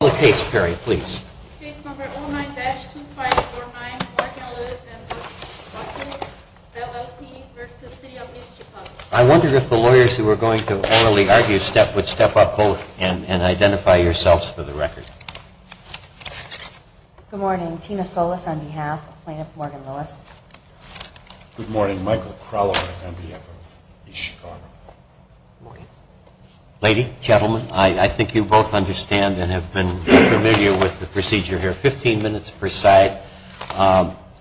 I wondered if the lawyers who were going to orally argue step would step up both and identify yourselves for the record. Good morning, Tina Solis on behalf of plaintiff Morgan Lewis. Good morning, Michael Kraler on behalf of East Chicago. Good morning. Ladies and gentlemen, I think you both understand and have been familiar with the procedure here. Fifteen minutes per side.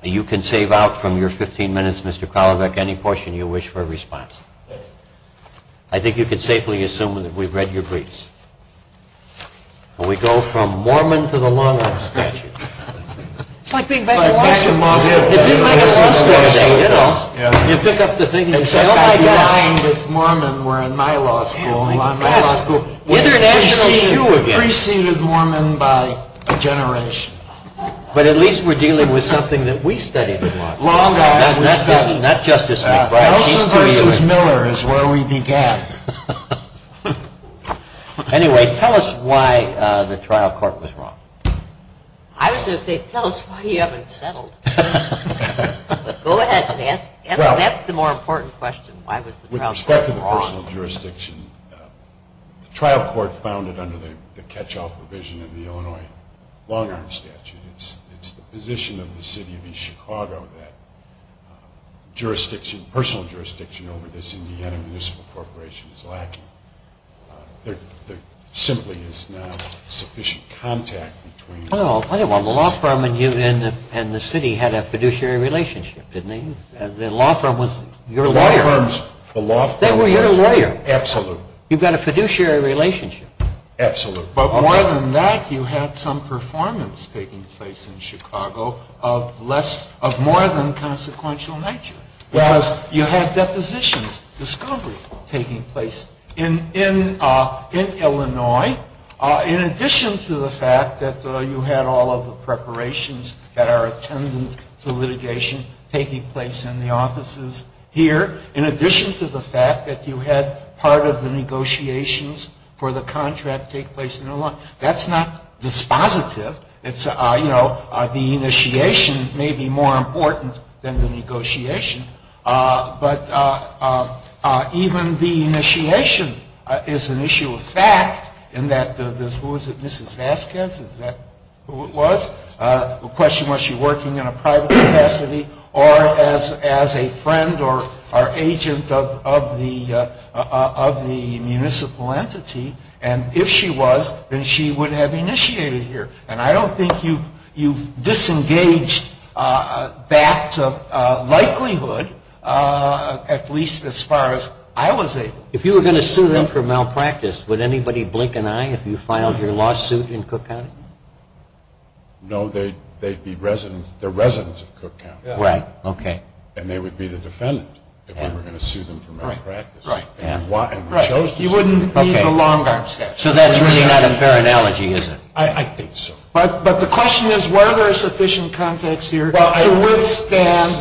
You can save out from your fifteen minutes, Mr. Kraler, any portion you wish for a response. Thank you. I think you can safely assume that we've read your briefs. We go from Mormon to the Long Island Statute. It's like being back in law school. It did make a sense the other day, you know. Except I'd be lying if Mormon were in my law school. My law school preceded Mormon by a generation. But at least we're dealing with something that we studied in law school. Not Justice McBride. Nelson v. Miller is where we began. Anyway, tell us why the trial court was wrong. I was going to say, tell us why you haven't settled. But go ahead and ask. That's the more important question, why was the trial court wrong. With respect to the personal jurisdiction, the trial court founded under the catch-all provision of the Illinois Long Island Statute. It's the position of the city of East Chicago that jurisdiction, personal jurisdiction over this Indiana Municipal Corporation is lacking. There simply is not sufficient contact between. Well, the law firm and the city had a fiduciary relationship, didn't they? The law firm was your lawyer. They were your lawyer. Absolutely. You've got a fiduciary relationship. Absolutely. But more than that, you had some performance taking place in Chicago of more than consequential nature. You had depositions, discovery taking place in Illinois. In addition to the fact that you had all of the preparations that are attendant to litigation taking place in the offices here, in addition to the fact that you had part of the negotiations for the contract take place in Illinois, that's not dispositive. It's, you know, the initiation may be more important than the negotiation. But even the initiation is an issue of fact in that there's, who is it, Mrs. Vasquez? Is that who it was? The question was she working in a private capacity or as a friend or agent of the municipal entity. And if she was, then she would have initiated here. And I don't think you've disengaged that likelihood, at least as far as I was able. If you were going to sue them for malpractice, would anybody blink an eye if you filed your lawsuit in Cook County? No. They'd be residents of Cook County. Right. Okay. And they would be the defendant if we were going to sue them for malpractice. Right. You wouldn't need the long-arm statute. So that's really not a fair analogy, is it? I think so. But the question is, were there sufficient context here to withstand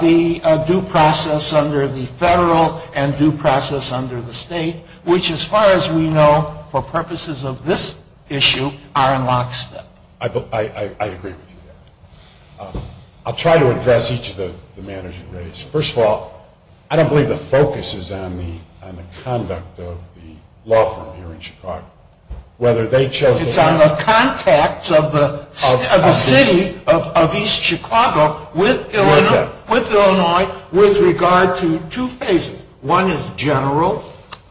the due process under the federal and due process under the state, which as far as we know, for purposes of this issue, are in lockstep? I agree with you there. I'll try to address each of the manners you raised. First of all, I don't believe the focus is on the conduct of the law firm here in Chicago. It's on the contacts of the city of East Chicago with Illinois with regard to two phases. One is general,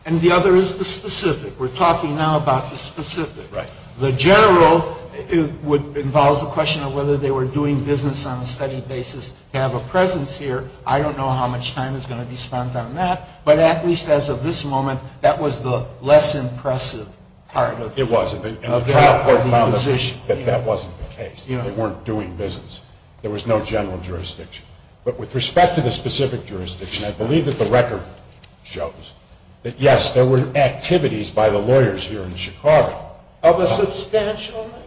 and the other is the specific. We're talking now about the specific. Right. The general involves the question of whether they were doing business on a steady basis to have a presence here. I don't know how much time is going to be spent on that. But at least as of this moment, that was the less impressive part. It was. And the trial court found that that wasn't the case. They weren't doing business. There was no general jurisdiction. But with respect to the specific jurisdiction, I believe that the record shows that, yes, there were activities by the lawyers here in Chicago of a substantial nature.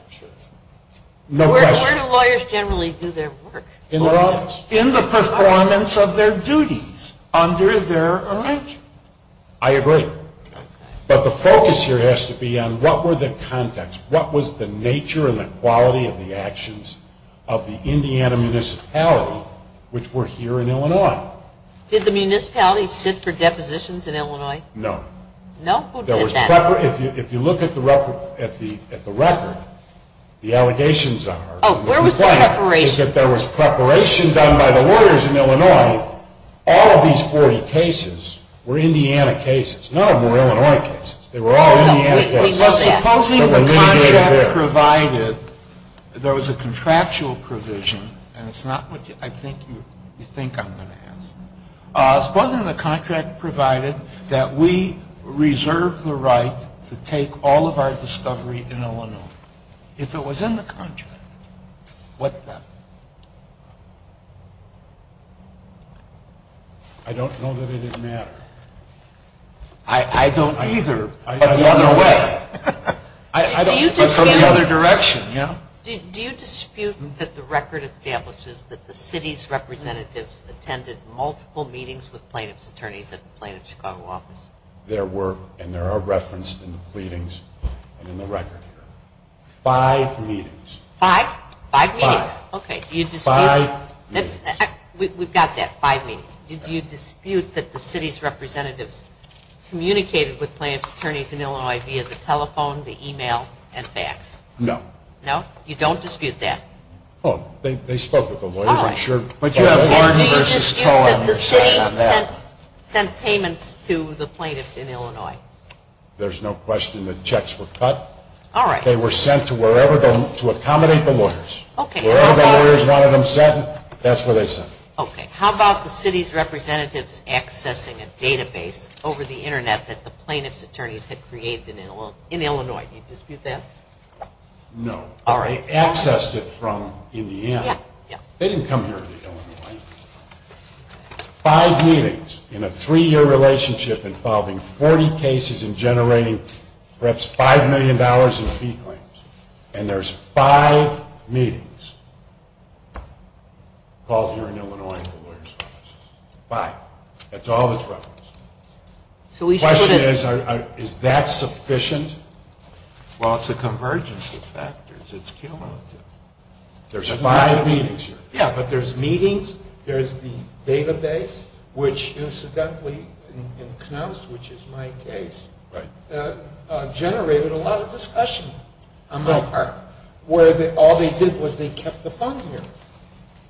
Where do lawyers generally do their work? In their office. In the performance of their duties under their arrangement. I agree. But the focus here has to be on what were the contacts? What was the nature and the quality of the actions of the Indiana municipality, which were here in Illinois? Did the municipality sit for depositions in Illinois? No. No? Who did that? If you look at the record, the allegations are. Where was the preparation? The allegation is that there was preparation done by the lawyers in Illinois. All of these 40 cases were Indiana cases. None of them were Illinois cases. They were all Indiana cases. Supposing the contract provided there was a contractual provision, and it's not what I think you think I'm going to ask. Supposing the contract provided that we reserve the right to take all of our discovery in Illinois. If it was in the contract, what then? I don't know that it would matter. I don't either. But the other way. But from the other direction, yeah. Do you dispute that the record establishes that the city's representatives attended multiple meetings with plaintiff's attorneys at the plaintiff's Chicago office? And there are references in the pleadings and in the record here. Five meetings. Five? Five meetings. Okay. Do you dispute that? Five meetings. We've got that. Five meetings. Do you dispute that the city's representatives communicated with plaintiff's attorneys in Illinois via the telephone, the email, and fax? No. No? You don't dispute that? Well, they spoke with the lawyers, I'm sure. And do you dispute that the city sent payments to the plaintiffs in Illinois? There's no question that checks were cut. All right. They were sent to accommodate the lawyers. Wherever the lawyers wanted them sent, that's where they sent them. Okay. How about the city's representatives accessing a database over the Internet that the plaintiff's attorneys had created in Illinois? Do you dispute that? No. But they accessed it from Indiana. They didn't come here to Illinois. Five meetings in a three-year relationship involving 40 cases and generating perhaps $5 million in fee claims. And there's five meetings called here in Illinois at the lawyers' offices. Five. That's all that's referenced. The question is, is that sufficient? Well, it's a convergence of factors. It's cumulative. There's five meetings here. Yeah, but there's meetings, there's the database, which incidentally in Knauss, which is my case, generated a lot of discussion on my part, where all they did was they kept the phone here.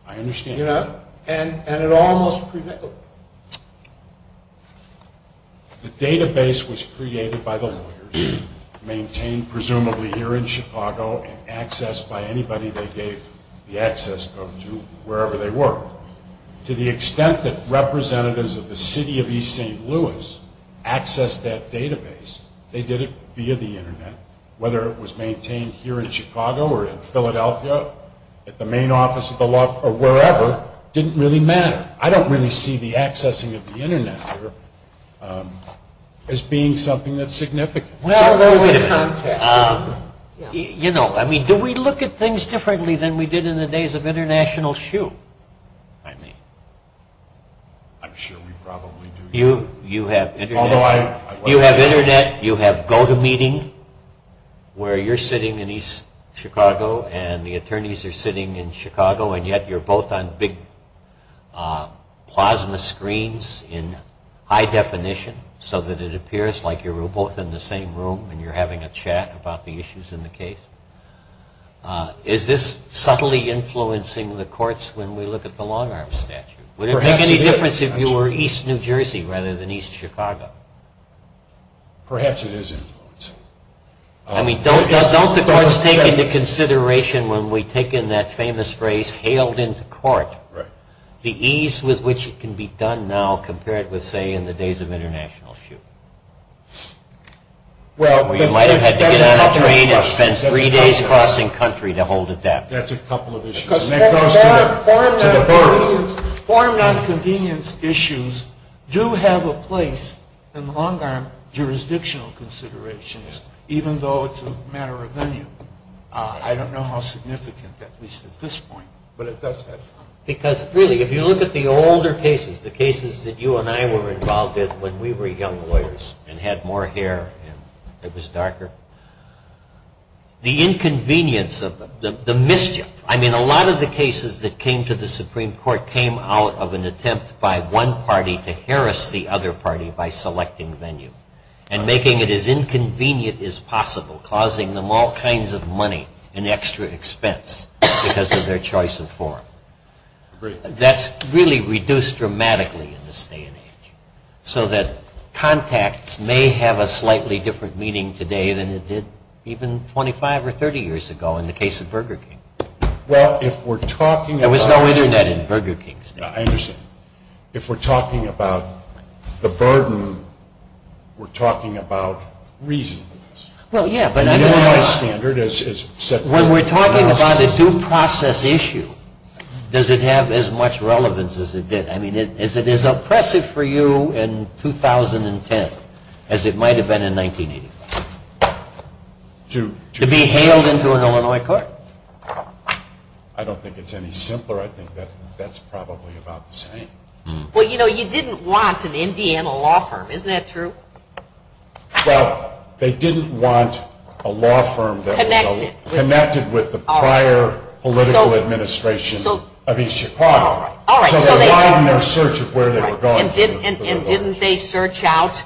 I understand. You know? And it almost predictable. The database was created by the lawyers, maintained presumably here in Chicago, and accessed by anybody they gave the access code to, wherever they were. To the extent that representatives of the city of East St. Louis accessed that database, they did it via the Internet, whether it was maintained here in Chicago or in Philadelphia, at the main office of the law firm, or wherever, didn't really matter. I don't really see the accessing of the Internet here as being something that's significant. Well, wait a minute. I mean, do we look at things differently than we did in the days of International Shoe? I mean, I'm sure we probably do. You have Internet. You have Internet. You have GoToMeeting, where you're sitting in East Chicago, and the attorneys are sitting in Chicago, and yet you're both on big plasma screens in high definition, so that it appears like you're both in the same room, and you're having a chat about the issues in the case. Is this subtly influencing the courts when we look at the long-arm statute? Would it make any difference if you were East New Jersey rather than East Chicago? Perhaps it is influencing. I mean, don't the courts take into consideration when we take in that famous phrase, hailed into court, the ease with which it can be done now compared with, say, in the days of International Shoe? You might have had to get on a train and spend three days crossing country to hold it down. That's a couple of issues. Form nonconvenience issues do have a place in long-arm jurisdictional considerations, even though it's a matter of venue. I don't know how significant, at least at this point, but it does have some. Because, really, if you look at the older cases, the cases that you and I were involved with when we were young lawyers and had more hair and it was darker, the inconvenience, the mischief. I mean, a lot of the cases that came to the Supreme Court came out of an attempt by one party to harass the other party by selecting venue and making it as inconvenient as possible, causing them all kinds of money and extra expense because of their choice of form. That's really reduced dramatically in this day and age so that contacts may have a slightly different meaning today than it did even 25 or 30 years ago in the case of Burger King. Well, if we're talking about... There was no Internet in Burger King. I understand. If we're talking about the burden, we're talking about reason. Well, yeah, but... The AI standard is... When we're talking about a due process issue, does it have as much relevance as it did? I mean, is it as oppressive for you in 2010 as it might have been in 1985? To be hailed into an Illinois court? I don't think it's any simpler. I think that's probably about the same. Well, you know, you didn't want an Indiana law firm. Isn't that true? Well, they didn't want a law firm that was so connected with the prior political administration of East Chicago. All right. So they widened their search of where they were going. And didn't they search out...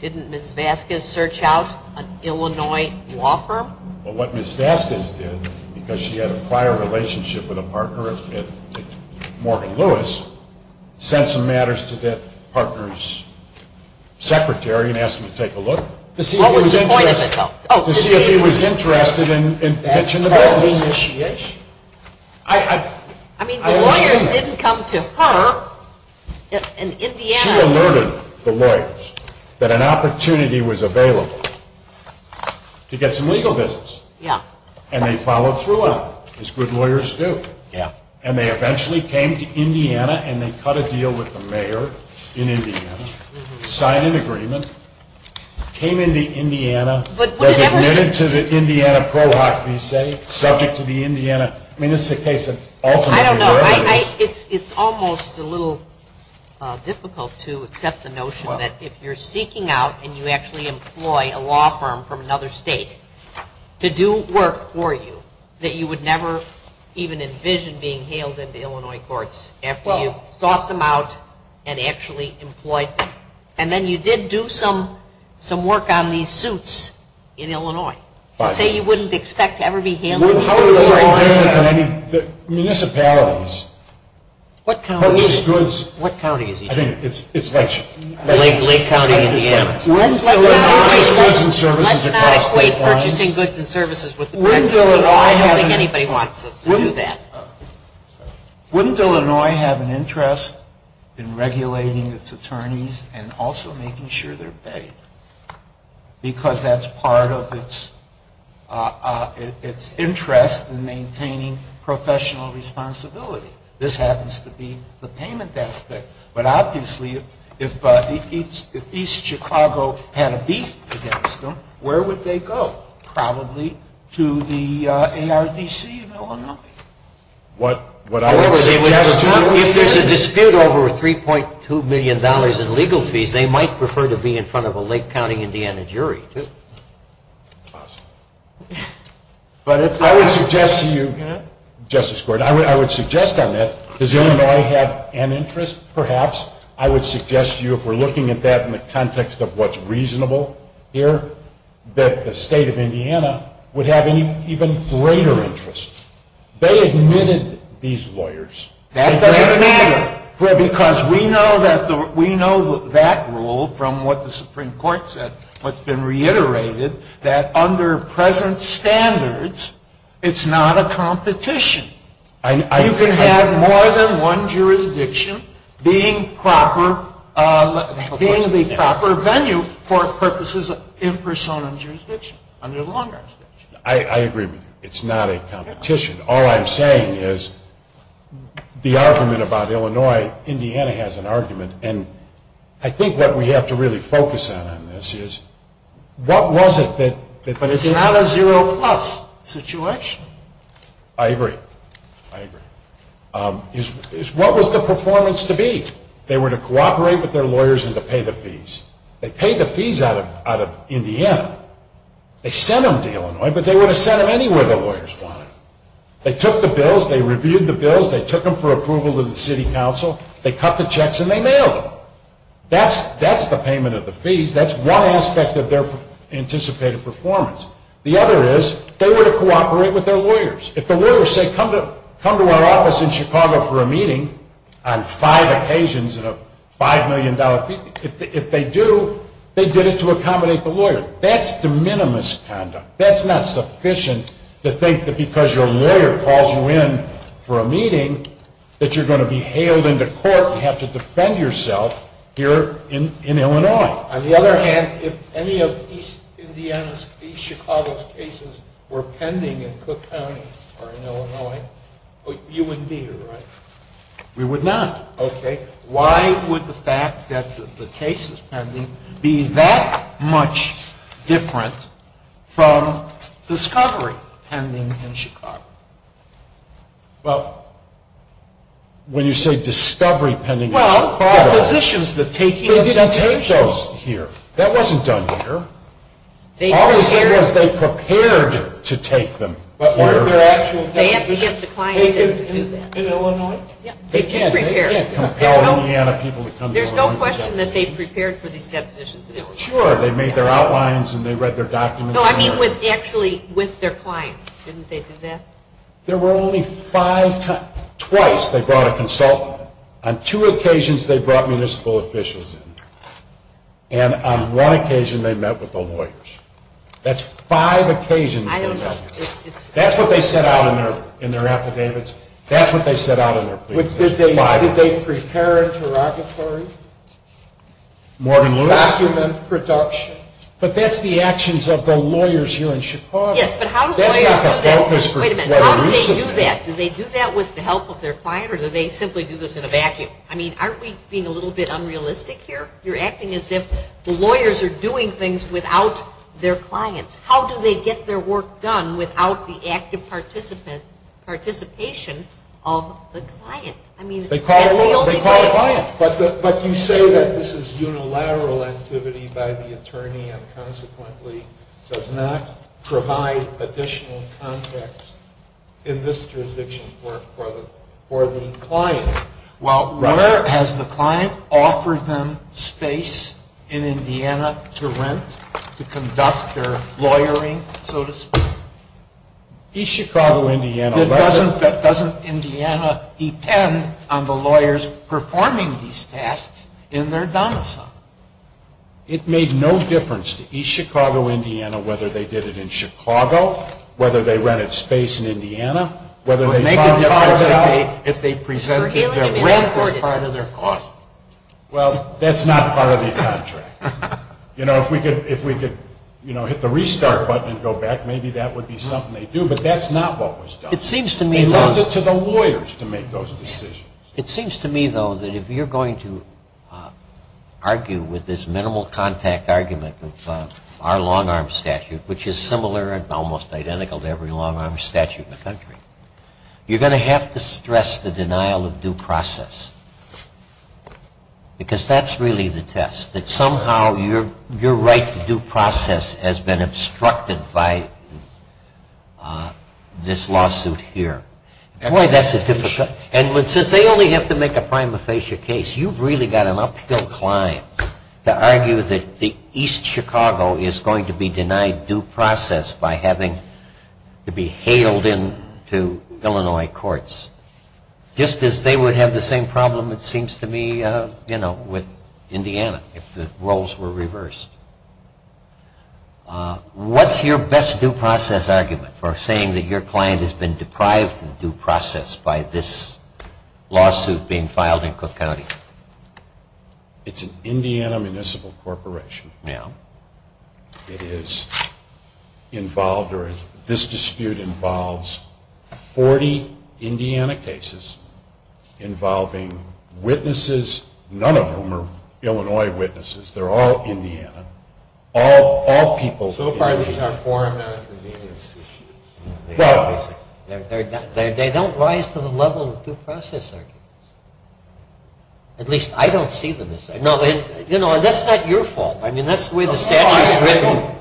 Didn't Ms. Vasquez search out an Illinois law firm? Well, what Ms. Vasquez did, because she had a prior relationship with a partner at Morgan Lewis, sent some matters to that partner's secretary and asked him to take a look to see if he was interested in pitching the bill. That's the initiation. I mean, the lawyers didn't come to her in Indiana. She alerted the lawyers that an opportunity was available to get some legal business. Yeah. And they followed through on it, as good lawyers do. Yeah. And they eventually came to Indiana and they cut a deal with the mayor in Indiana, signed an agreement, came into Indiana, was admitted to the Indiana ProHoc, you say, subject to the Indiana. I mean, this is a case of ultimately lawyers. I don't know. It's almost a little difficult to accept the notion that if you're seeking out and you actually employ a law firm from another state to do work for you, that you would never even envision being hailed into Illinois courts after you've sought them out and actually employed them. And then you did do some work on these suits in Illinois. So say you wouldn't expect to ever be hailed into Illinois. Municipalities. What counties? I think it's Lake County. Lake County, Indiana. Let's not equate purchasing goods and services with the practice of the law. I don't think anybody wants us to do that. Wouldn't Illinois have an interest in regulating its attorneys and also making sure they're paid? Because that's part of its interest in maintaining professional responsibility. This happens to be the payment aspect. But obviously if East Chicago had a beef against them, where would they go? Probably to the ARDC in Illinois. However, if there's a dispute over $3.2 million in legal fees, they might prefer to be in front of a Lake County, Indiana jury too. But I would suggest to you, Justice Gordon, I would suggest on that, does Illinois have an interest? Perhaps. I would suggest to you if we're looking at that in the context of what's reasonable here, that the state of Indiana would have an even greater interest. They admitted these lawyers. That doesn't matter. Because we know that rule from what the Supreme Court said, what's been reiterated, that under present standards, it's not a competition. You can have more than one jurisdiction being the proper venue for purposes in persona jurisdiction, under the long-arm statute. I agree with you. It's not a competition. All I'm saying is the argument about Illinois, Indiana has an argument. And I think what we have to really focus on in this is what was it that – It's not a zero-plus situation. I agree. I agree. It's what was the performance to be. They were to cooperate with their lawyers and to pay the fees. They paid the fees out of Indiana. They sent them to Illinois, but they would have sent them anywhere the lawyers wanted. They took the bills. They reviewed the bills. They took them for approval to the city council. They cut the checks and they mailed them. That's the payment of the fees. That's one aspect of their anticipated performance. The other is they were to cooperate with their lawyers. If the lawyers say, come to our office in Chicago for a meeting on five occasions and a $5 million fee, if they do, they did it to accommodate the lawyer. That's de minimis conduct. That's not sufficient to think that because your lawyer calls you in for a meeting that you're going to be hailed into court and have to defend yourself here in Illinois. On the other hand, if any of East Chicago's cases were pending in Cook County or in Illinois, you wouldn't be here, right? We would not. Okay. Why would the fact that the case is pending be that much different from discovery pending in Chicago? Well, when you say discovery pending in Chicago, they didn't take those. That wasn't done here. All they said was they prepared to take them here. They have to get the clients in to do that. In Illinois? They did prepare. They can't compel Indiana people to come to Illinois. There's no question that they prepared for these depositions in Illinois. Sure. They made their outlines and they read their documents. No, I mean actually with their clients. Didn't they do that? There were only five times. Twice they brought a consultant. On two occasions they brought municipal officials in. And on one occasion they met with the lawyers. That's five occasions they met with them. That's what they set out in their affidavits. That's what they set out in their pleadings. Did they prepare interrogatories? Document production. But that's the actions of the lawyers here in Chicago. Yes, but how do lawyers do that? Wait a minute. How do they do that? Do they do that with the help of their client or do they simply do this in a vacuum? I mean aren't we being a little bit unrealistic here? You're acting as if the lawyers are doing things without their clients. How do they get their work done without the active participation of the client? They call a client. But you say that this is unilateral activity by the attorney and consequently does not provide additional context in this jurisdiction for the client. Well, where has the client offered them space in Indiana to rent, to conduct their lawyering, so to speak? East Chicago, Indiana. Doesn't Indiana depend on the lawyers performing these tasks in their domicile? It made no difference to East Chicago, Indiana, whether they did it in Chicago, whether they rented space in Indiana, whether they found a part of it out. It would make a difference if they presented their rent as part of their cost. Well, that's not part of the contract. You know, if we could hit the restart button and go back, maybe that would be something they'd do. But that's not what was done. They left it to the lawyers to make those decisions. It seems to me, though, that if you're going to argue with this minimal contact argument of our long-arm statute, which is similar and almost identical to every long-arm statute in the country, you're going to have to stress the denial of due process because that's really the test, that somehow your right to due process has been obstructed by this lawsuit here. And since they only have to make a prima facie case, you've really got an uphill climb to argue that East Chicago is going to be denied due process by having to be hailed into Illinois courts, just as they would have the same problem, it seems to me, with Indiana if the roles were reversed. What's your best due process argument for saying that your client has been deprived of due process by this lawsuit being filed in Cook County? It's an Indiana municipal corporation. Yeah. It is involved, or this dispute involves 40 Indiana cases involving witnesses, none of whom are Illinois witnesses. They're all Indiana, all people in Indiana. So far, these are foreign nonconvenience issues. Well, they don't rise to the level of due process arguments. At least, I don't see them as such. No, and that's not your fault. I mean, that's the way the statute is written.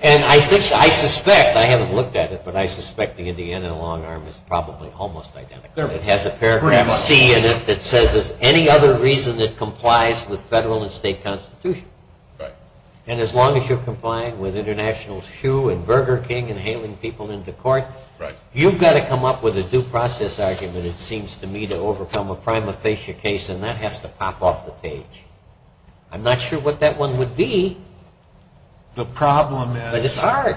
And I suspect, I haven't looked at it, but I suspect the Indiana long-arm is probably almost identical. It has a paragraph C in it that says there's any other reason it complies with federal and state constitution. Right. And as long as you're complying with International Shoe and Burger King and hailing people into court, you've got to come up with a due process argument, it seems to me, to overcome a prima facie case, and that has to pop off the page. I'm not sure what that one would be. The problem is… But it's hard.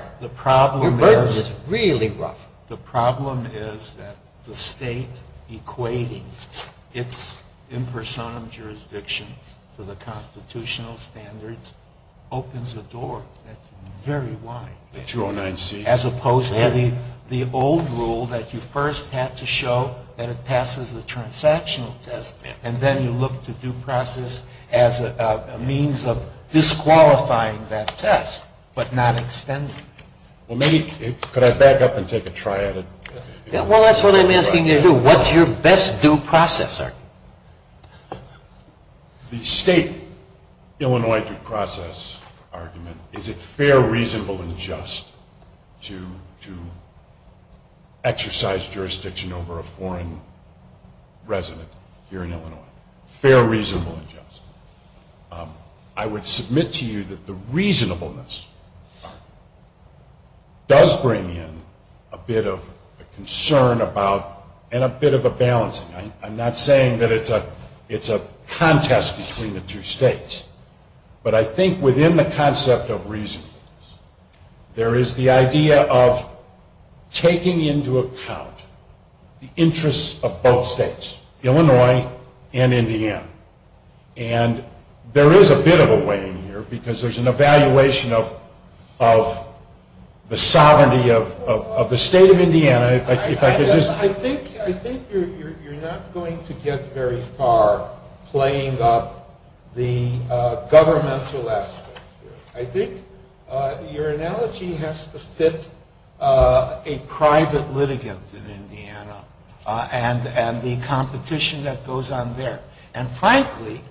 Your burden is really rough. The problem is that the state equating its impersonum jurisdiction to the constitutional standards opens a door that's very wide. The 209C. As opposed to the old rule that you first had to show that it passes the transactional test, and then you look to due process as a means of disqualifying that test but not extending it. Could I back up and take a try at it? Well, that's what I'm asking you to do. What's your best due process argument? The state Illinois due process argument, is it fair, reasonable, and just to exercise jurisdiction over a foreign resident here in Illinois? Fair, reasonable, and just. I would submit to you that the reasonableness does bring in a bit of a concern and a bit of a balancing. I'm not saying that it's a contest between the two states, but I think within the concept of reasonableness, there is the idea of taking into account the interests of both states, Illinois and Indiana, and there is a bit of a weighing here because there's an evaluation of the sovereignty of the state of Indiana. I think you're not going to get very far playing up the governmental aspect here. I think your analogy has to fit a private litigant in Indiana and the competition that goes on there. And frankly,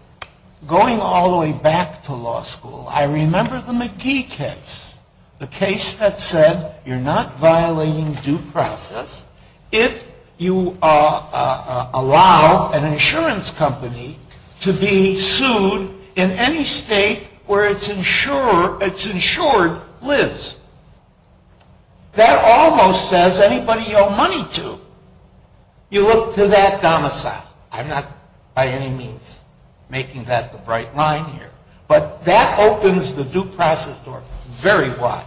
going all the way back to law school, I remember the McGee case, the case that said you're not violating due process if you allow an insurance company to be sued in any state where it's insured lives. That almost says anybody you owe money to. You look to that domicile. I'm not by any means making that the bright line here. But that opens the due process door very wide.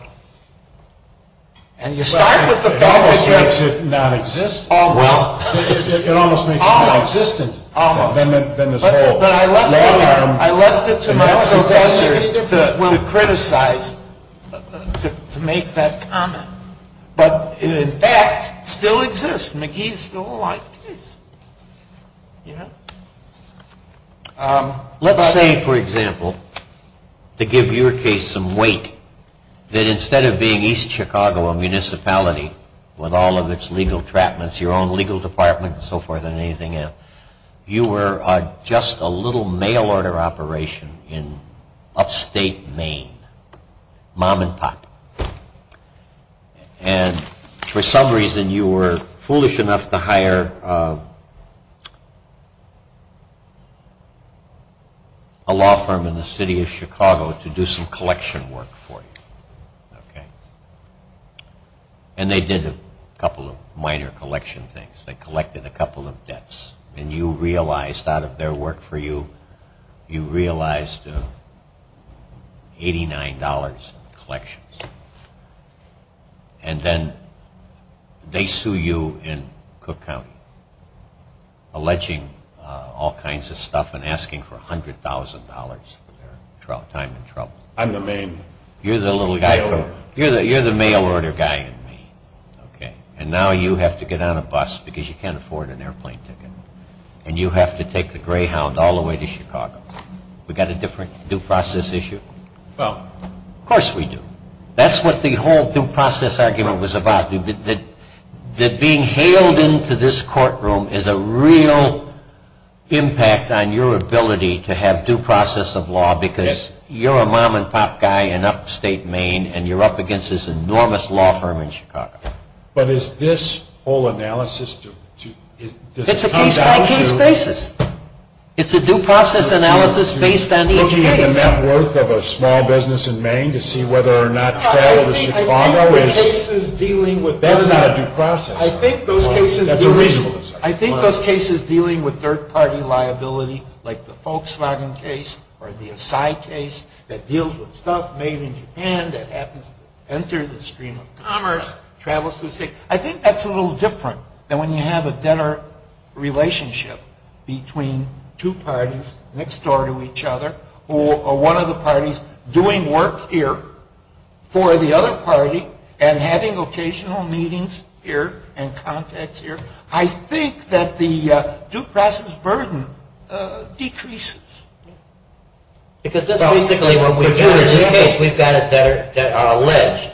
And you start with the fact that you're... It almost makes it nonexistent. Almost. It almost makes it nonexistent. Almost. Than this whole lawyering. I left it to my professor to criticize, to make that comment. But in fact, it still exists. McGee is still alive. Let's say, for example, to give your case some weight, that instead of being East Chicago, a municipality with all of its legal trapments, your own legal department and so forth and anything else, you were just a little mail order operation in upstate Maine, mom and pop. And for some reason you were foolish enough to hire a law firm in the city of Chicago to do some collection work for you. And they did a couple of minor collection things. They collected a couple of debts. And you realized out of their work for you, you realized $89 in collections. And then they sue you in Cook County, alleging all kinds of stuff and asking for $100,000 for their time in trouble. I'm the main mail order. You're the mail order guy in Maine. And now you have to get on a bus because you can't afford an airplane ticket. And you have to take the Greyhound all the way to Chicago. We got a different due process issue? Of course we do. That's what the whole due process argument was about, that being hailed into this courtroom is a real impact on your ability to have due process of law because you're a mom and pop guy in upstate Maine and you're up against this enormous law firm in Chicago. But is this whole analysis... It's a case-by-case basis. It's a due process analysis based on the engineering case. You're taking that worth of a small business in Maine to see whether or not travel to Chicago is... I think the cases dealing with... That's not a due process. I think those cases dealing with third-party liability, like the Volkswagen case or the Asai case, that deals with stuff made in Japan that happens to enter the stream of commerce, travels through state... I think that's a little different than when you have a debtor relationship between two parties next door to each other, or one of the parties doing work here for the other party and having occasional meetings here and contacts here. I think that the due process burden decreases. Because that's basically what we do in this case. I think we've got an alleged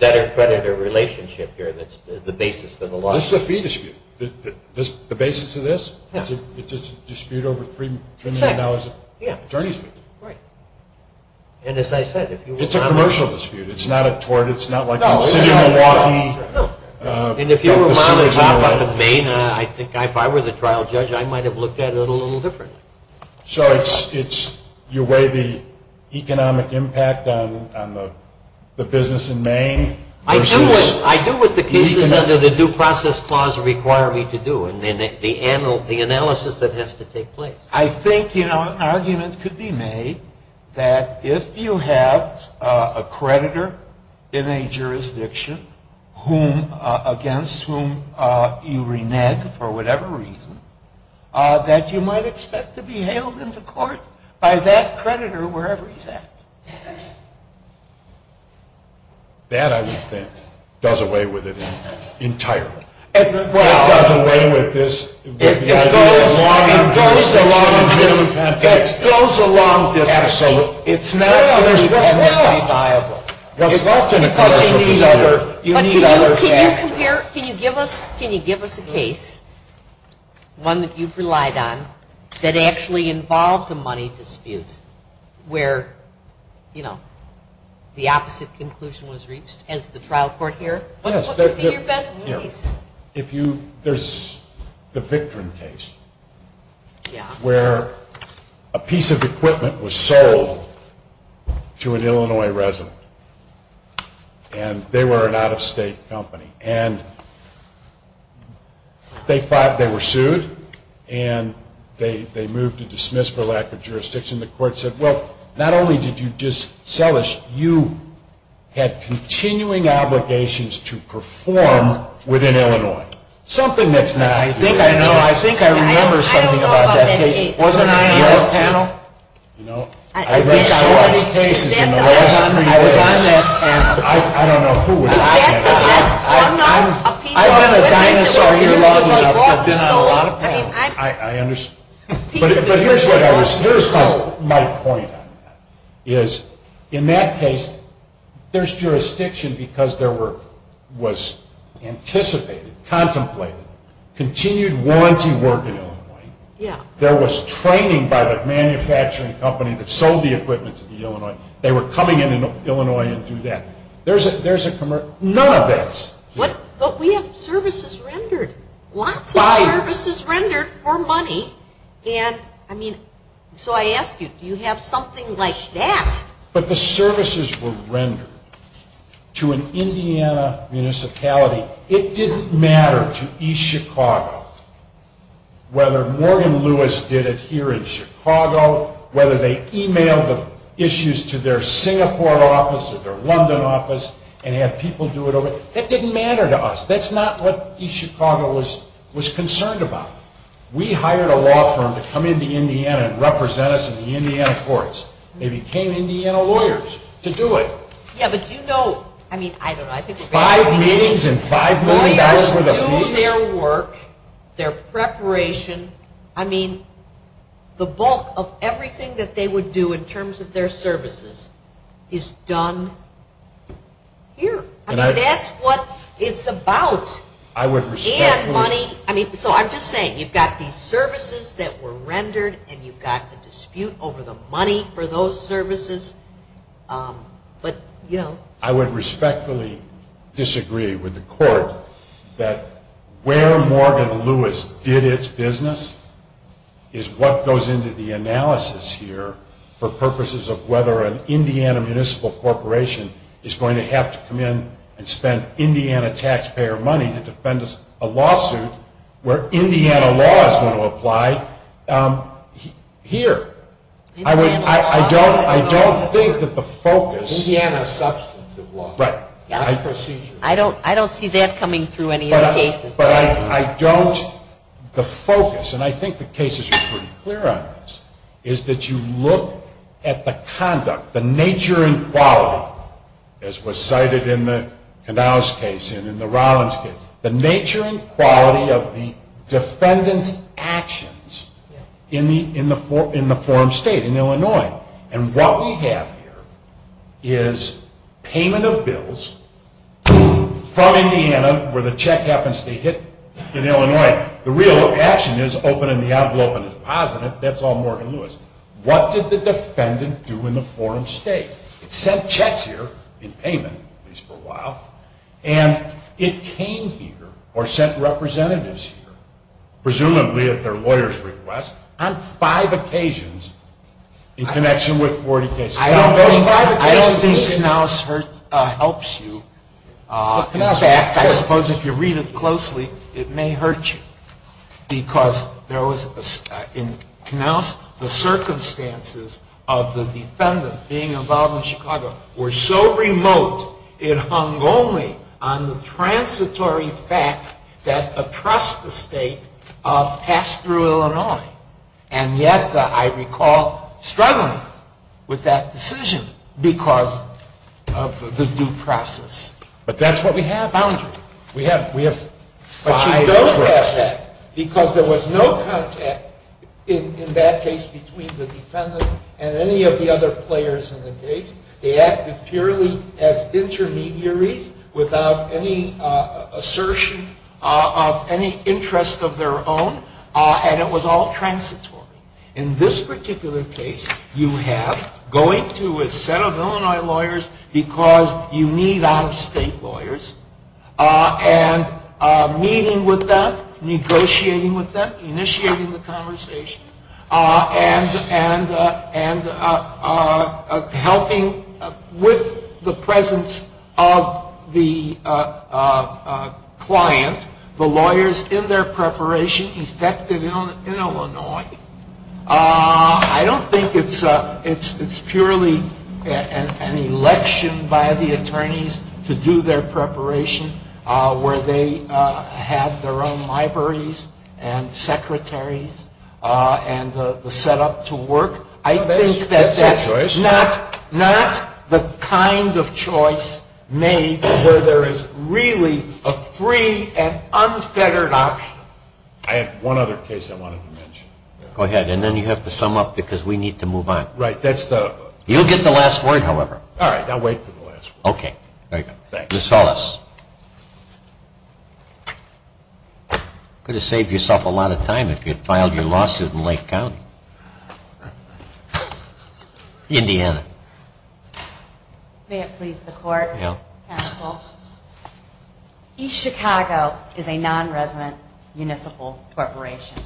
debtor-creditor relationship here that's the basis of the law. This is a fee dispute. The basis of this? It's a dispute over $3 million of attorney's fees. And as I said... It's a commercial dispute. It's not a tort. It's not like I'm sitting in Milwaukee... And if you were a cop up in Maine, if I were the trial judge, I might have looked at it a little differently. So you weigh the economic impact on the business in Maine... I do what the cases under the due process clause require me to do, and the analysis that has to take place. I think an argument could be made that if you have a creditor in a jurisdiction against whom you renege for whatever reason, that you might expect to be hailed into court by that creditor wherever he's at. That, I would think, does away with it entirely. Well... It does away with this... It goes along this... It goes along this... Absolutely. It's not universally viable. It's often a commercial dispute. You need other factors. Can you give us a case one that you've relied on that actually involved a money dispute where, you know, the opposite conclusion was reached as the trial court here? Yes. There's the Victron case where a piece of equipment was sold to an Illinois resident. And they were an out-of-state company. And they were sued. And they moved to dismiss for lack of jurisdiction. The court said, well, not only did you just sell us, you had continuing obligations to perform within Illinois. Something that's not... I think I know. I think I remember something about that case. Wasn't I on your panel? I read so many cases in the last hundred years. I don't know who was on that panel. I'm not a piece of equipment. I've been on a lot of panels. I understand. But here's my point on that. In that case, there's jurisdiction because there was anticipated, contemplated, continued warranty work in Illinois. There was training by the manufacturing company that sold the equipment to the Illinois. They were coming in Illinois and do that. None of this. But we have services rendered. Lots of services rendered for money. So I ask you, do you have something like that? But the services were rendered to an Indiana municipality. It didn't matter to East Chicago whether Morgan Lewis did it here in Chicago, whether they emailed the issues to their Singapore office or their London office and had people do it over there. It didn't matter to us. That's not what East Chicago was concerned about. We hired a law firm to come into Indiana and represent us in the Indiana courts. They became Indiana lawyers to do it. Five meetings and $5 million worth of fees? Lawyers do their work, their preparation. I mean, the bulk of everything that they would do in terms of their services is done here. I mean, that's what it's about. And money. So I'm just saying, you've got these services that were rendered and you've got the dispute over the money for those services. I would respectfully disagree with the court that where Morgan Lewis did its business is what goes into the analysis here for purposes of whether an Indiana municipal corporation is going to have to come in and spend Indiana taxpayer money to defend a lawsuit where Indiana law is going to apply here. I don't think that the focus... Indiana substantive law. Right. I don't see that coming through any other cases. But I don't... The focus, and I think the case is pretty clear on this, is that you look at the conduct, the nature and quality, as was cited in the Knauss case and in the Rollins case, the nature and quality of the defendant's actions in the forum state, in Illinois. And what we have here is payment of bills from Indiana, where the check happens to hit in Illinois. The real action is opening the envelope and depositing it. That's all Morgan Lewis. What did the defendant do in the forum state? It sent checks here in payment, at least for a while, and it came here or sent representatives here, presumably at their lawyer's request, on five occasions in connection with 40 cases. I don't think Knauss helps you. In fact, I suppose if you read it closely, it may hurt you because there was, in Knauss, the circumstances of the defendant being involved in Chicago were so remote, it hung only on the transitory fact that oppressed the state passed through Illinois. And yet, I recall, struggling with that decision because of the due process. But that's what we have. Boundary. But she does have that because there was no contact in that case between the defendant and any of the other players in the case. They acted purely as intermediaries without any assertion of any interest of their own, and it was all transitory. In this particular case, you have going to a set of Illinois lawyers because you need out-of-state lawyers, and meeting with them, negotiating with them, initiating the conversation, and helping with the presence of the client, the lawyers in their preparation effective in Illinois. I don't think it's purely an election by the attorneys to do their preparation where they have their own libraries and secretaries and the setup to work. I think that that's not the kind of choice made where there is really a free and unfettered option. I have one other case I wanted to mention. Go ahead, and then you have to sum up because we need to move on. Right, that's the... You'll get the last word, however. All right, I'll wait for the last word. Okay. Ms. Salas. Could have saved yourself a lot of time if you had filed your lawsuit in Lake County. Indiana. May it please the court, counsel. East Chicago is a non-resident municipal corporation,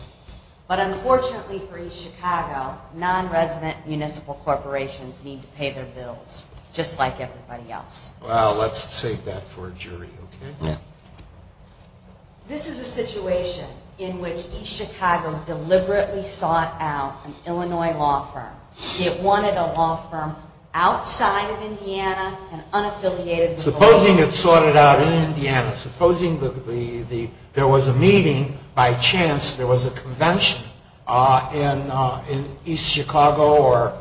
but unfortunately for East Chicago, non-resident municipal corporations need to pay their bills, just like everybody else. Well, let's save that for a jury, okay? Yeah. This is a situation in which East Chicago deliberately sought out an Illinois law firm. It wanted a law firm outside of Indiana and unaffiliated with Illinois. Supposing it sought it out in Indiana. Supposing there was a meeting, by chance there was a convention in East Chicago or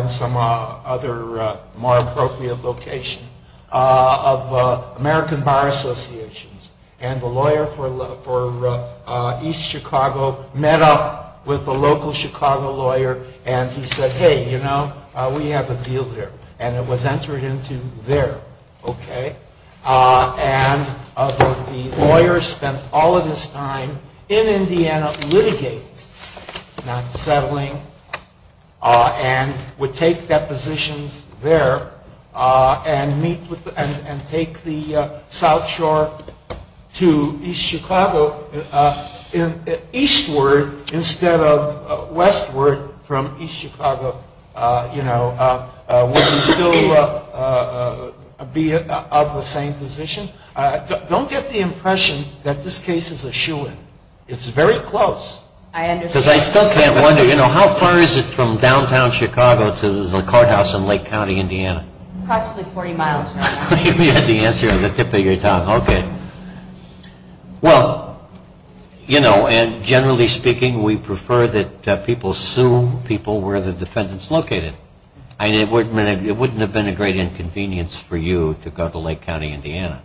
in some other more appropriate location of American Bar Associations and the lawyer for East Chicago met up with the local Chicago lawyer and he said, hey, you know, we have a deal here. And it was entered into there, okay? And the lawyer spent all of his time in Indiana litigating, not settling, and would take that position there and meet with, and take the South Shore to East Chicago eastward instead of westward from East Chicago, you know, would he still be of the same position? Don't get the impression that this case is a shoe-in. It's very close. I understand. Because I still can't wonder, you know, how far is it from downtown Chicago to the courthouse in Lake County, Indiana? Approximately 40 miles. You had the answer at the tip of your tongue. Okay. Well, you know, and generally speaking, we prefer that people sue people where the defendant's located. It wouldn't have been a great inconvenience for you to go to Lake County, Indiana.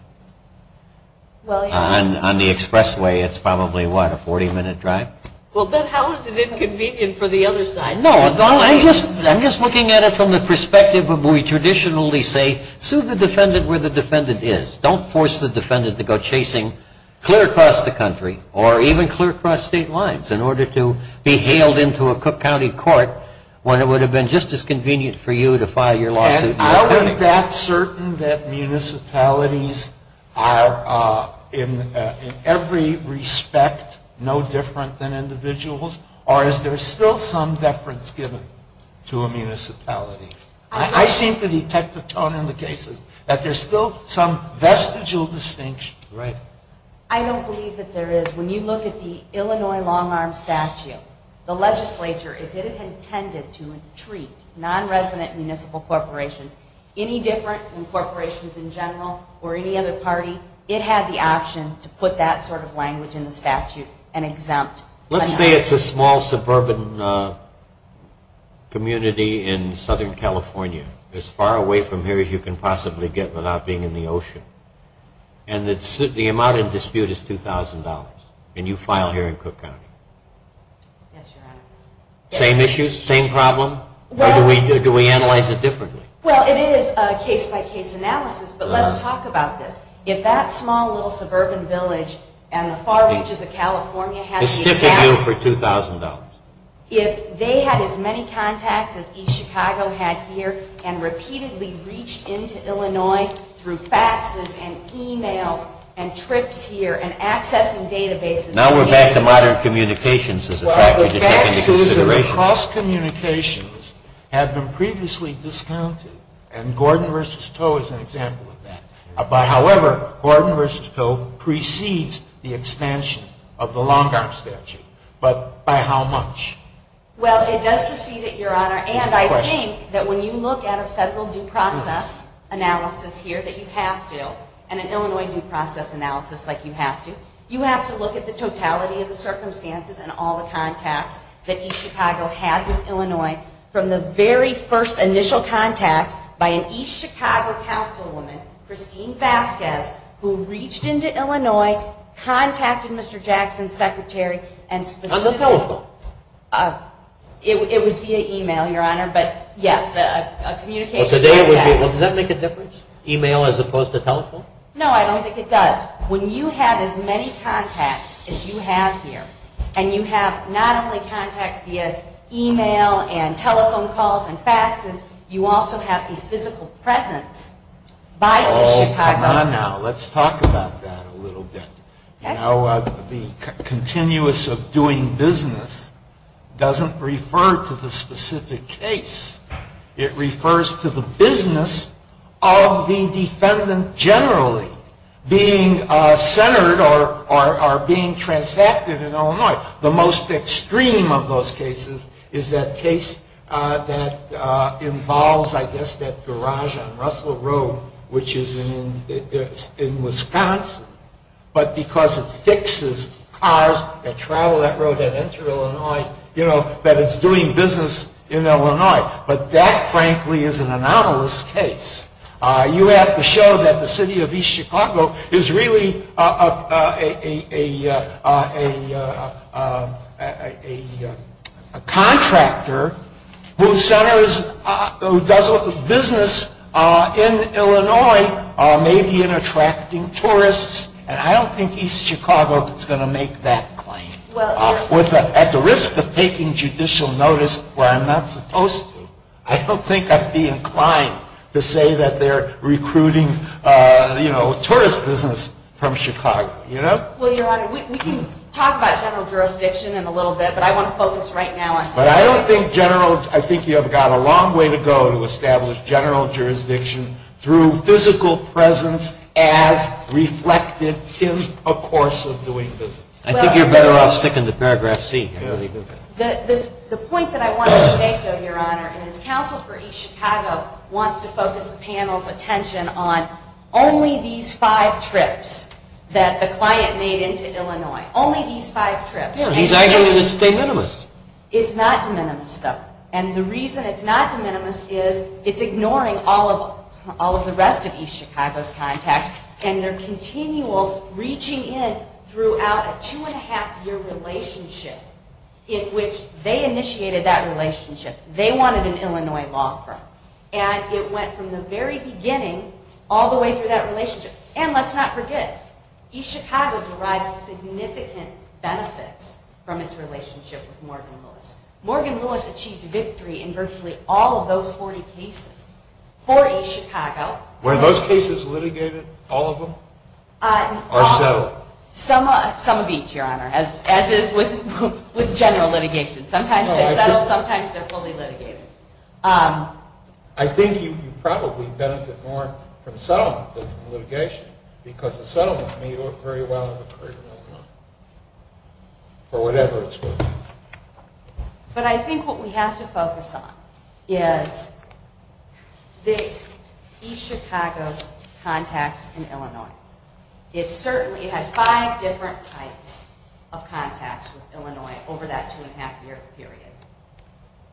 On the expressway, it's probably, what, a 40-minute drive? Well, then how is it inconvenient for the other side? No. I'm just looking at it from the perspective of what we traditionally say, sue the defendant where the defendant is. Don't force the defendant to go chasing clear across the country or even clear across state lines in order to be hailed into a Cook County court when it would have been just as convenient for you to file your lawsuit. And I wasn't that certain that municipalities are in every respect no different than individuals or is there still some deference given to a municipality? I seem to detect the tone in the cases that there's still some vestigial distinction. Right. I don't believe that there is. When you look at the Illinois long-arm statute, the legislature, if it had intended to treat non-resident municipal corporations any different than corporations in general or any other party, it had the option to put that sort of language in the statute and exempt. Let's say it's a small suburban community in Southern California, as far away from here as you can possibly get without being in the ocean. And the amount in dispute is $2,000 and you file here in Cook County. Yes, Your Honor. Same issues? Same problem? Or do we analyze it differently? Well, it is a case-by-case analysis, but let's talk about this. If that small little suburban village and the far reaches of California had the exact... Vestigial for $2,000. If they had as many contacts as each Chicago had here and repeatedly reached into Illinois through faxes and e-mails and trips here and accessing databases... Now we're back to modern communications as a factor to take into consideration. Well, the faxes and cross-communications have been previously discounted, and Gordon v. Toe is an example of that. However, Gordon v. Toe precedes the expansion of the Long Arm Statute, but by how much? Well, it does precede it, Your Honor, and I think that when you look at a federal due process analysis here that you have to, and an Illinois due process analysis like you have to, you have to look at the totality of the circumstances and all the contacts that each Chicago had with Illinois from the very first initial contact by an each Chicago councilwoman, Christine Vasquez, who reached into Illinois, contacted Mr. Jackson's secretary, and specifically... On the telephone? It was via e-mail, Your Honor, but yes, a communication... Does that make a difference? E-mail as opposed to telephone? No, I don't think it does. When you have as many contacts as you have here, and you have not only contacts via e-mail and telephone calls and faxes, you also have a physical presence by each Chicago... Oh, come on now. Let's talk about that a little bit. You know, the continuous of doing business doesn't refer to the specific case. It refers to the business of the defendant generally being centered or being transacted in Illinois. The most extreme of those cases is that case that involves, I guess, that garage on Russell Road, which is in Wisconsin, but because it fixes cars that travel that road and enter Illinois, you know, that it's doing business in Illinois. But that, frankly, is an anomalous case. You have to show that the city of each Chicago is really a... a contractor who centers... who does business in Illinois, maybe in attracting tourists, and I don't think East Chicago is going to make that claim. At the risk of taking judicial notice where I'm not supposed to, I don't think I'd be inclined to say that they're recruiting, you know, tourist business from Chicago, you know? Well, Your Honor, we can talk about general jurisdiction in a little bit, but I want to focus right now on... But I don't think general... I think you have got a long way to go to establish general jurisdiction through physical presence as reflected in a course of doing business. I think you're better off sticking to paragraph C here. The point that I want to make, though, Your Honor, is Council for East Chicago wants to focus the panel's attention on only these five trips that the client made into Illinois. Only these five trips. Yeah, he's arguing it's de minimis. It's not de minimis, though. And the reason it's not de minimis is it's ignoring all of... all of the rest of East Chicago's contacts, and they're continual reaching in throughout a two-and-a-half-year relationship in which they initiated that relationship. They wanted an Illinois law firm. And it went from the very beginning all the way through that relationship. And let's not forget, East Chicago derived significant benefits from its relationship with Morgan Lewis. Morgan Lewis achieved victory in virtually all of those 40 cases for East Chicago. Were those cases litigated, all of them, or settled? Some of each, Your Honor, as is with general litigation. Sometimes they're settled, sometimes they're fully litigated. I think you probably benefit more from settlement than from litigation because a settlement may look very well if it occurred in Illinois for whatever it's worth. But I think what we have to focus on is the East Chicago's contacts in Illinois. It certainly had five different types of contacts with Illinois over that two-and-a-half-year period.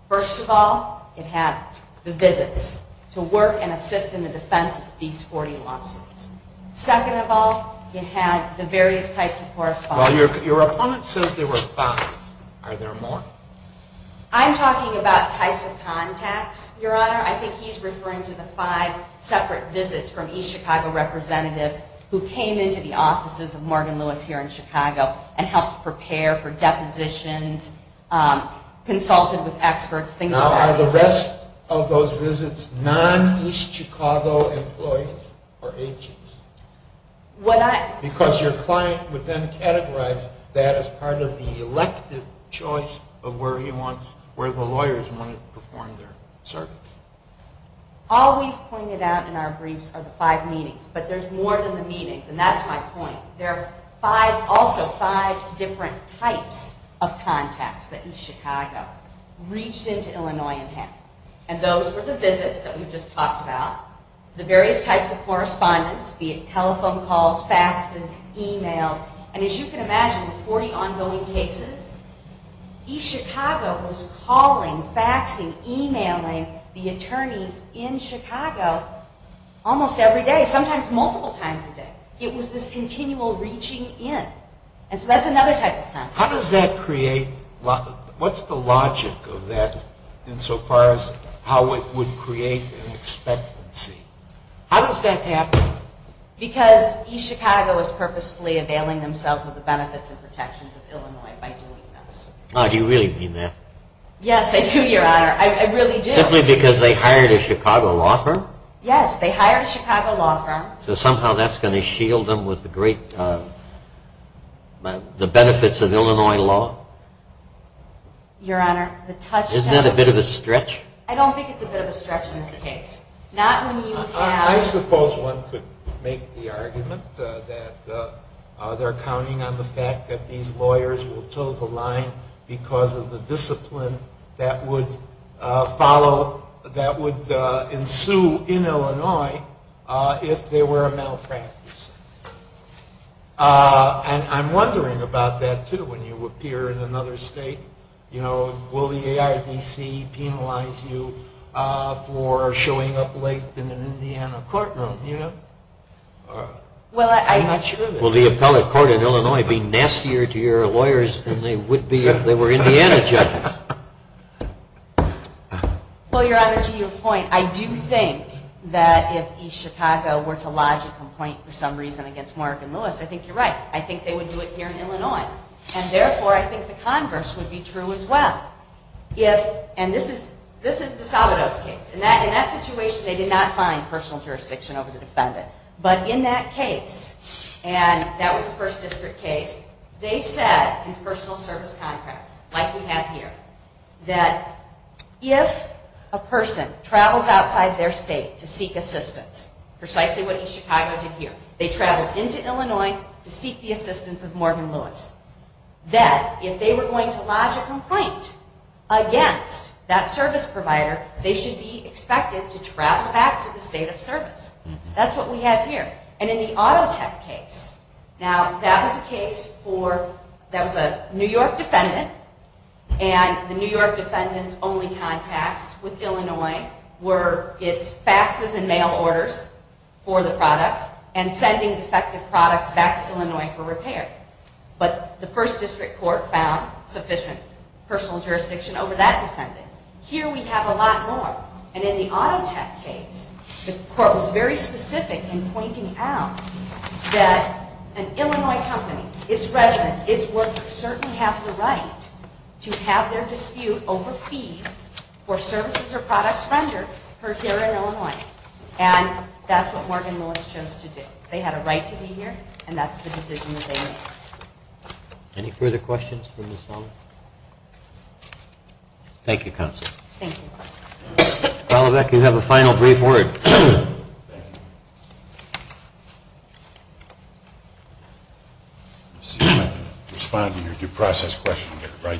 First of all, it had the visits to work and assist in the defense of these 40 lawsuits. Second of all, it had the various types of correspondence. Well, your opponent says there were five. Are there more? I'm talking about types of contacts, Your Honor. I think he's referring to the five separate visits from East Chicago representatives who came into the offices of Morgan Lewis here in Chicago and helped prepare for depositions, consulted with experts, things like that. Now, are the rest of those visits non-East Chicago employees or agents? Because your client would then categorize that as part of the elective choice of where the lawyers wanted to perform their service. All we've pointed out in our briefs are the five meetings, but there's more than the meetings, and that's my point. There are also five different types of contacts that East Chicago reached into Illinois and had, and those were the visits that we've just talked about, the various types of correspondence, be it telephone calls, faxes, emails, and as you can imagine, the 40 ongoing cases, East Chicago was calling, faxing, emailing the attorneys in Chicago almost every day, sometimes multiple times a day. It was this continual reaching in, and so that's another type of contact. How does that create, what's the logic of that insofar as how it would create an expectancy? How does that happen? Because East Chicago was purposefully availing themselves of the benefits and protections of Illinois by doing this. Oh, do you really mean that? Yes, I do, Your Honor. I really do. Simply because they hired a Chicago law firm? Yes, they hired a Chicago law firm. So somehow that's going to shield them from the benefits of Illinois law? Your Honor, the touchstone... Isn't that a bit of a stretch? I don't think it's a bit of a stretch in this case. I suppose one could make the argument that they're counting on the fact that these lawyers will toe the line because of the discipline that would ensue in Illinois if there were a malpractice. And I'm wondering about that too when you appear in another state. Will the AIDC penalize you for showing up late in an Indiana courtroom? I'm not sure that... Will the appellate court in Illinois be nastier to your lawyers than they would be if they were Indiana judges? Well, Your Honor, to your point, I do think that if East Chicago were to lodge a complaint for some reason against Mark and Lewis, I think you're right. I think they would do it here in Illinois. And therefore, I think the converse would be true as well. And this is the Sabados case. In that situation, they did not find personal jurisdiction over the defendant. But in that case, and that was a First District case, they said in personal service contracts, like we have here, that if a person travels outside their state to seek assistance, precisely what East Chicago did here, they traveled into Illinois to seek the assistance of Mark and Lewis, that if they were going to lodge a complaint against that service provider, they should be expected to travel back to the state of service. That's what we have here. And in the Auto Tech case, now that was a case for... that was a New York defendant, and the New York defendant's only contacts with Illinois were its faxes and mail orders for the product and sending defective products back to Illinois for repair. But the First District Court found sufficient personal jurisdiction over that defendant. Here we have a lot more. And in the Auto Tech case, the court was very specific in pointing out that an Illinois company, its residents, its workers, certainly have the right to have their dispute over fees for services or products rendered heard here in Illinois. And that's what Mark and Lewis chose to do. They had a right to be here, and that's the decision that they made. Any further questions for Ms. Waller? Thank you, Counsel. Thank you. Ms. Waller, you have a final brief word. Respond to your due process question.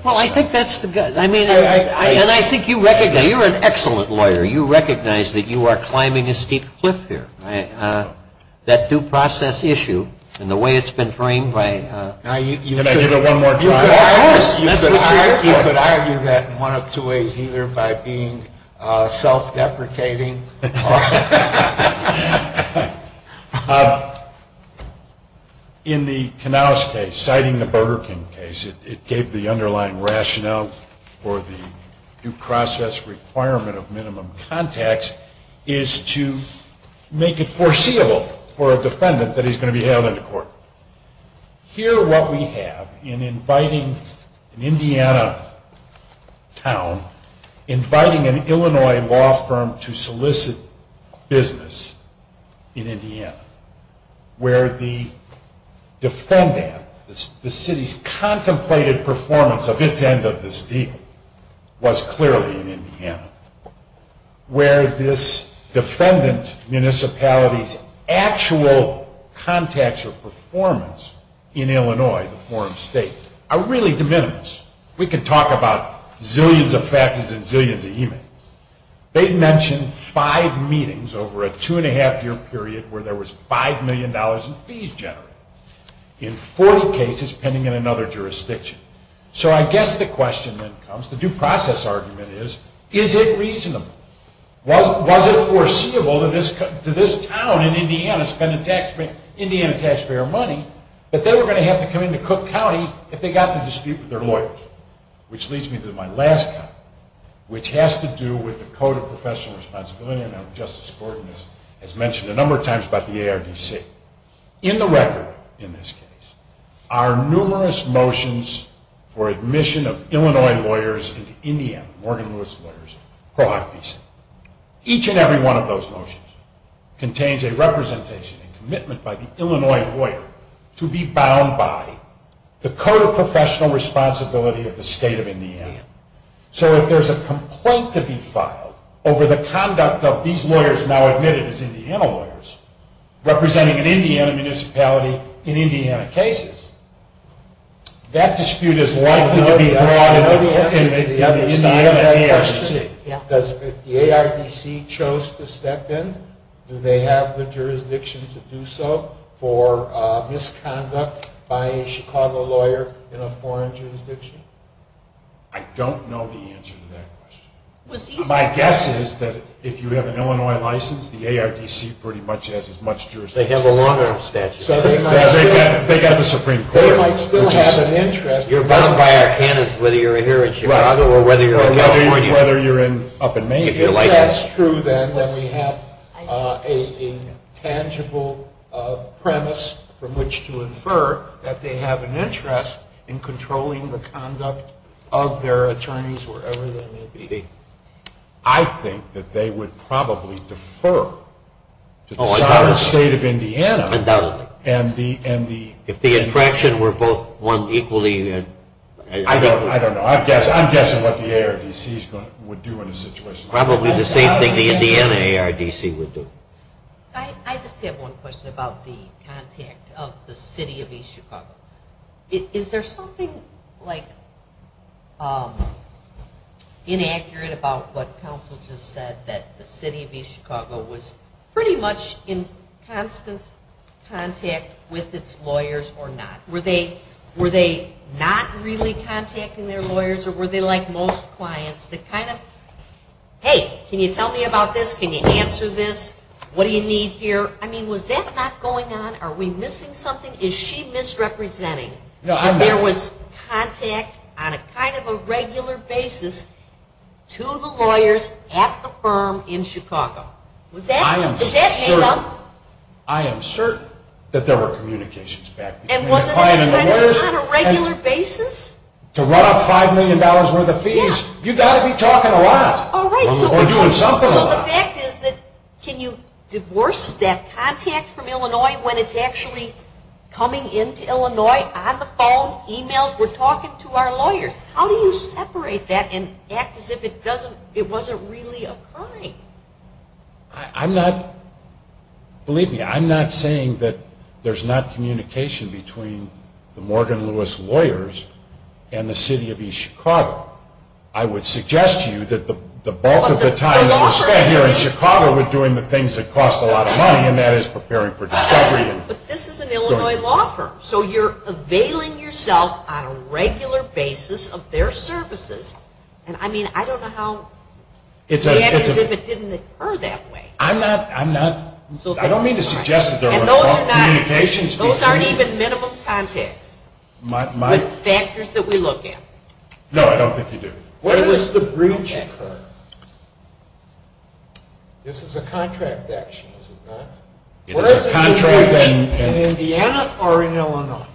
Well, I think that's the... I mean, and I think you recognize... you're an excellent lawyer. You recognize that you are climbing a steep cliff here. That due process issue and the way it's been framed by... Can I give it one more try? Of course. You could argue that in one of two ways, either by being self-deprecating... In the Canals case, citing the Burger King case, it gave the underlying rationale for the due process requirement of minimum contacts is to make it foreseeable for a defendant that he's going to be held into court. Here, what we have in inviting an Indiana town, where the defendant, the city's contemplated performance of its end of this deal, was clearly in Indiana, where this defendant municipality's actual contacts or performance in Illinois, the foreign state, are really de minimis. We could talk about zillions of factors and zillions of emails. They mentioned five meetings over a two-and-a-half-year period where there was $5 million in fees generated in 40 cases pending in another jurisdiction. So I guess the question then comes, the due process argument is, is it reasonable? Was it foreseeable to this town in Indiana to spend Indiana taxpayer money that they were going to have to come into Cook County if they got in a dispute with their lawyers? Which leads me to my last comment, which has to do with the Code of Professional Responsibility. Justice Gordon has mentioned a number of times about the ARDC. In the record, in this case, are numerous motions for admission of Illinois lawyers into Indiana, Morgan Lewis Lawyers, Pro Hoc visa. Each and every one of those motions contains a representation and commitment by the Illinois lawyer to be bound by the Code of Professional Responsibility So if there's a complaint to be filed over the conduct of these lawyers now admitted as Indiana lawyers representing an Indiana municipality in Indiana cases, that dispute is likely to be brought into the Indiana ARDC. If the ARDC chose to step in, do they have the jurisdiction to do so for misconduct by a Chicago lawyer in a foreign jurisdiction? I don't know the answer to that question. My guess is that if you have an Illinois license, the ARDC pretty much has as much jurisdiction as you do. They have a long-term statute. They got the Supreme Court. They might still have an interest. You're bound by our canons whether you're here in Chicago or whether you're in California. Whether you're up in Maine. If that's true, then, then we have an intangible premise from which to infer that they have an interest in controlling the conduct of their attorneys wherever they may be. I think that they would probably defer to the sovereign state of Indiana. Undoubtedly. If the infraction were both won equally. I don't know. I'm guessing what the ARDC would do in a situation like that. Probably the same thing the Indiana ARDC would do. I just have one question about the contact of the city of East Chicago. Is there something like inaccurate about what counsel just said that the city of East Chicago was pretty much in constant contact with its lawyers or not? Were they not really contacting their lawyers or were they like most clients that kind of, hey, can you tell me about this? Can you answer this? What do you need here? I mean, was that not going on? Are we missing something? Is she misrepresenting that there was contact on a kind of a regular basis to the lawyers at the firm in Chicago? Was that made up? I am certain that there were communications back between the client and lawyers. And wasn't that kind of on a regular basis? To run up $5 million worth of fees, you've got to be talking a lot. Or doing something a lot. So the fact is that can you divorce that contact from Illinois when it's actually coming into Illinois on the phone, emails, we're talking to our lawyers. How do you separate that and act as if it wasn't really occurring? Believe me, I'm not saying that there's not communication between the Morgan Lewis lawyers and the city of East Chicago. I would suggest to you that the bulk of the time that we spent here in Chicago were doing the things that cost a lot of money, and that is preparing for discovery. But this is an Illinois law firm. So you're availing yourself on a regular basis of their services. And I mean, I don't know how to act as if it didn't occur that way. I'm not, I don't mean to suggest that there were communications. Those aren't even minimum contacts with factors that we look at. No, I don't think you do. Where does the breach occur? This is a contract action, is it not? It is a contract action. In Indiana or in Illinois?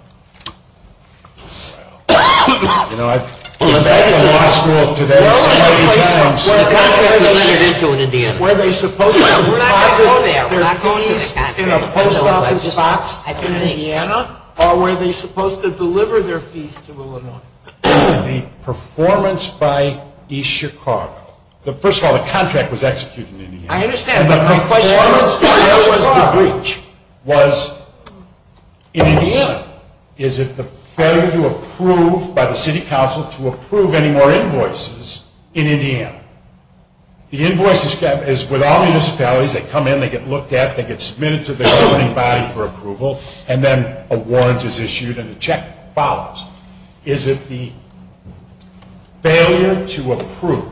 You know, I've been back in law school today so many times. The contract doesn't enter into in Indiana. Were they supposed to deposit their fees in a post office box in Indiana, or were they supposed to deliver their fees to Illinois? The performance by East Chicago. First of all, the contract was executed in Indiana. I understand. The performance was in Indiana. Is it fair to approve by the city council to approve any more invoices in Indiana? The invoice is with all municipalities. They come in, they get looked at, they get submitted to the governing body for approval, and then a warrant is issued and a check follows. Is it the failure to approve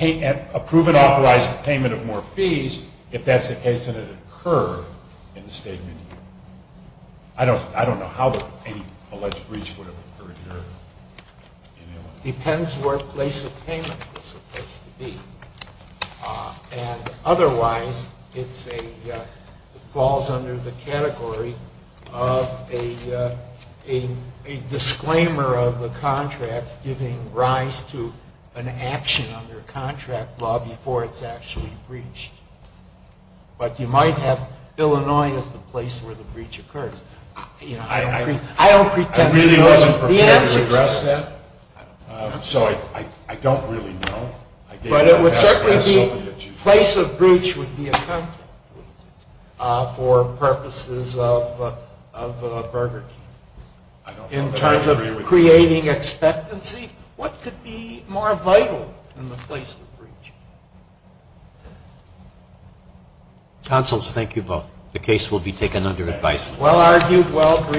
and authorize the payment of more fees, if that's the case, that it occurred in the statement here? I don't know how any alleged breach would have occurred here in Illinois. It depends where the place of payment is supposed to be. And otherwise, it falls under the category of a disclaimer of the contract giving rise to an action under contract law before it's actually breached. But you might have Illinois as the place where the breach occurs. I don't pretend to know the answers. I really wasn't prepared to address that, so I don't really know. But it would certainly be a place of breach would be a contract for purposes of burglaries. In terms of creating expectancy, what could be more vital than the place of breach? Councils, thank you both. The case will be taken under advisement. Well argued.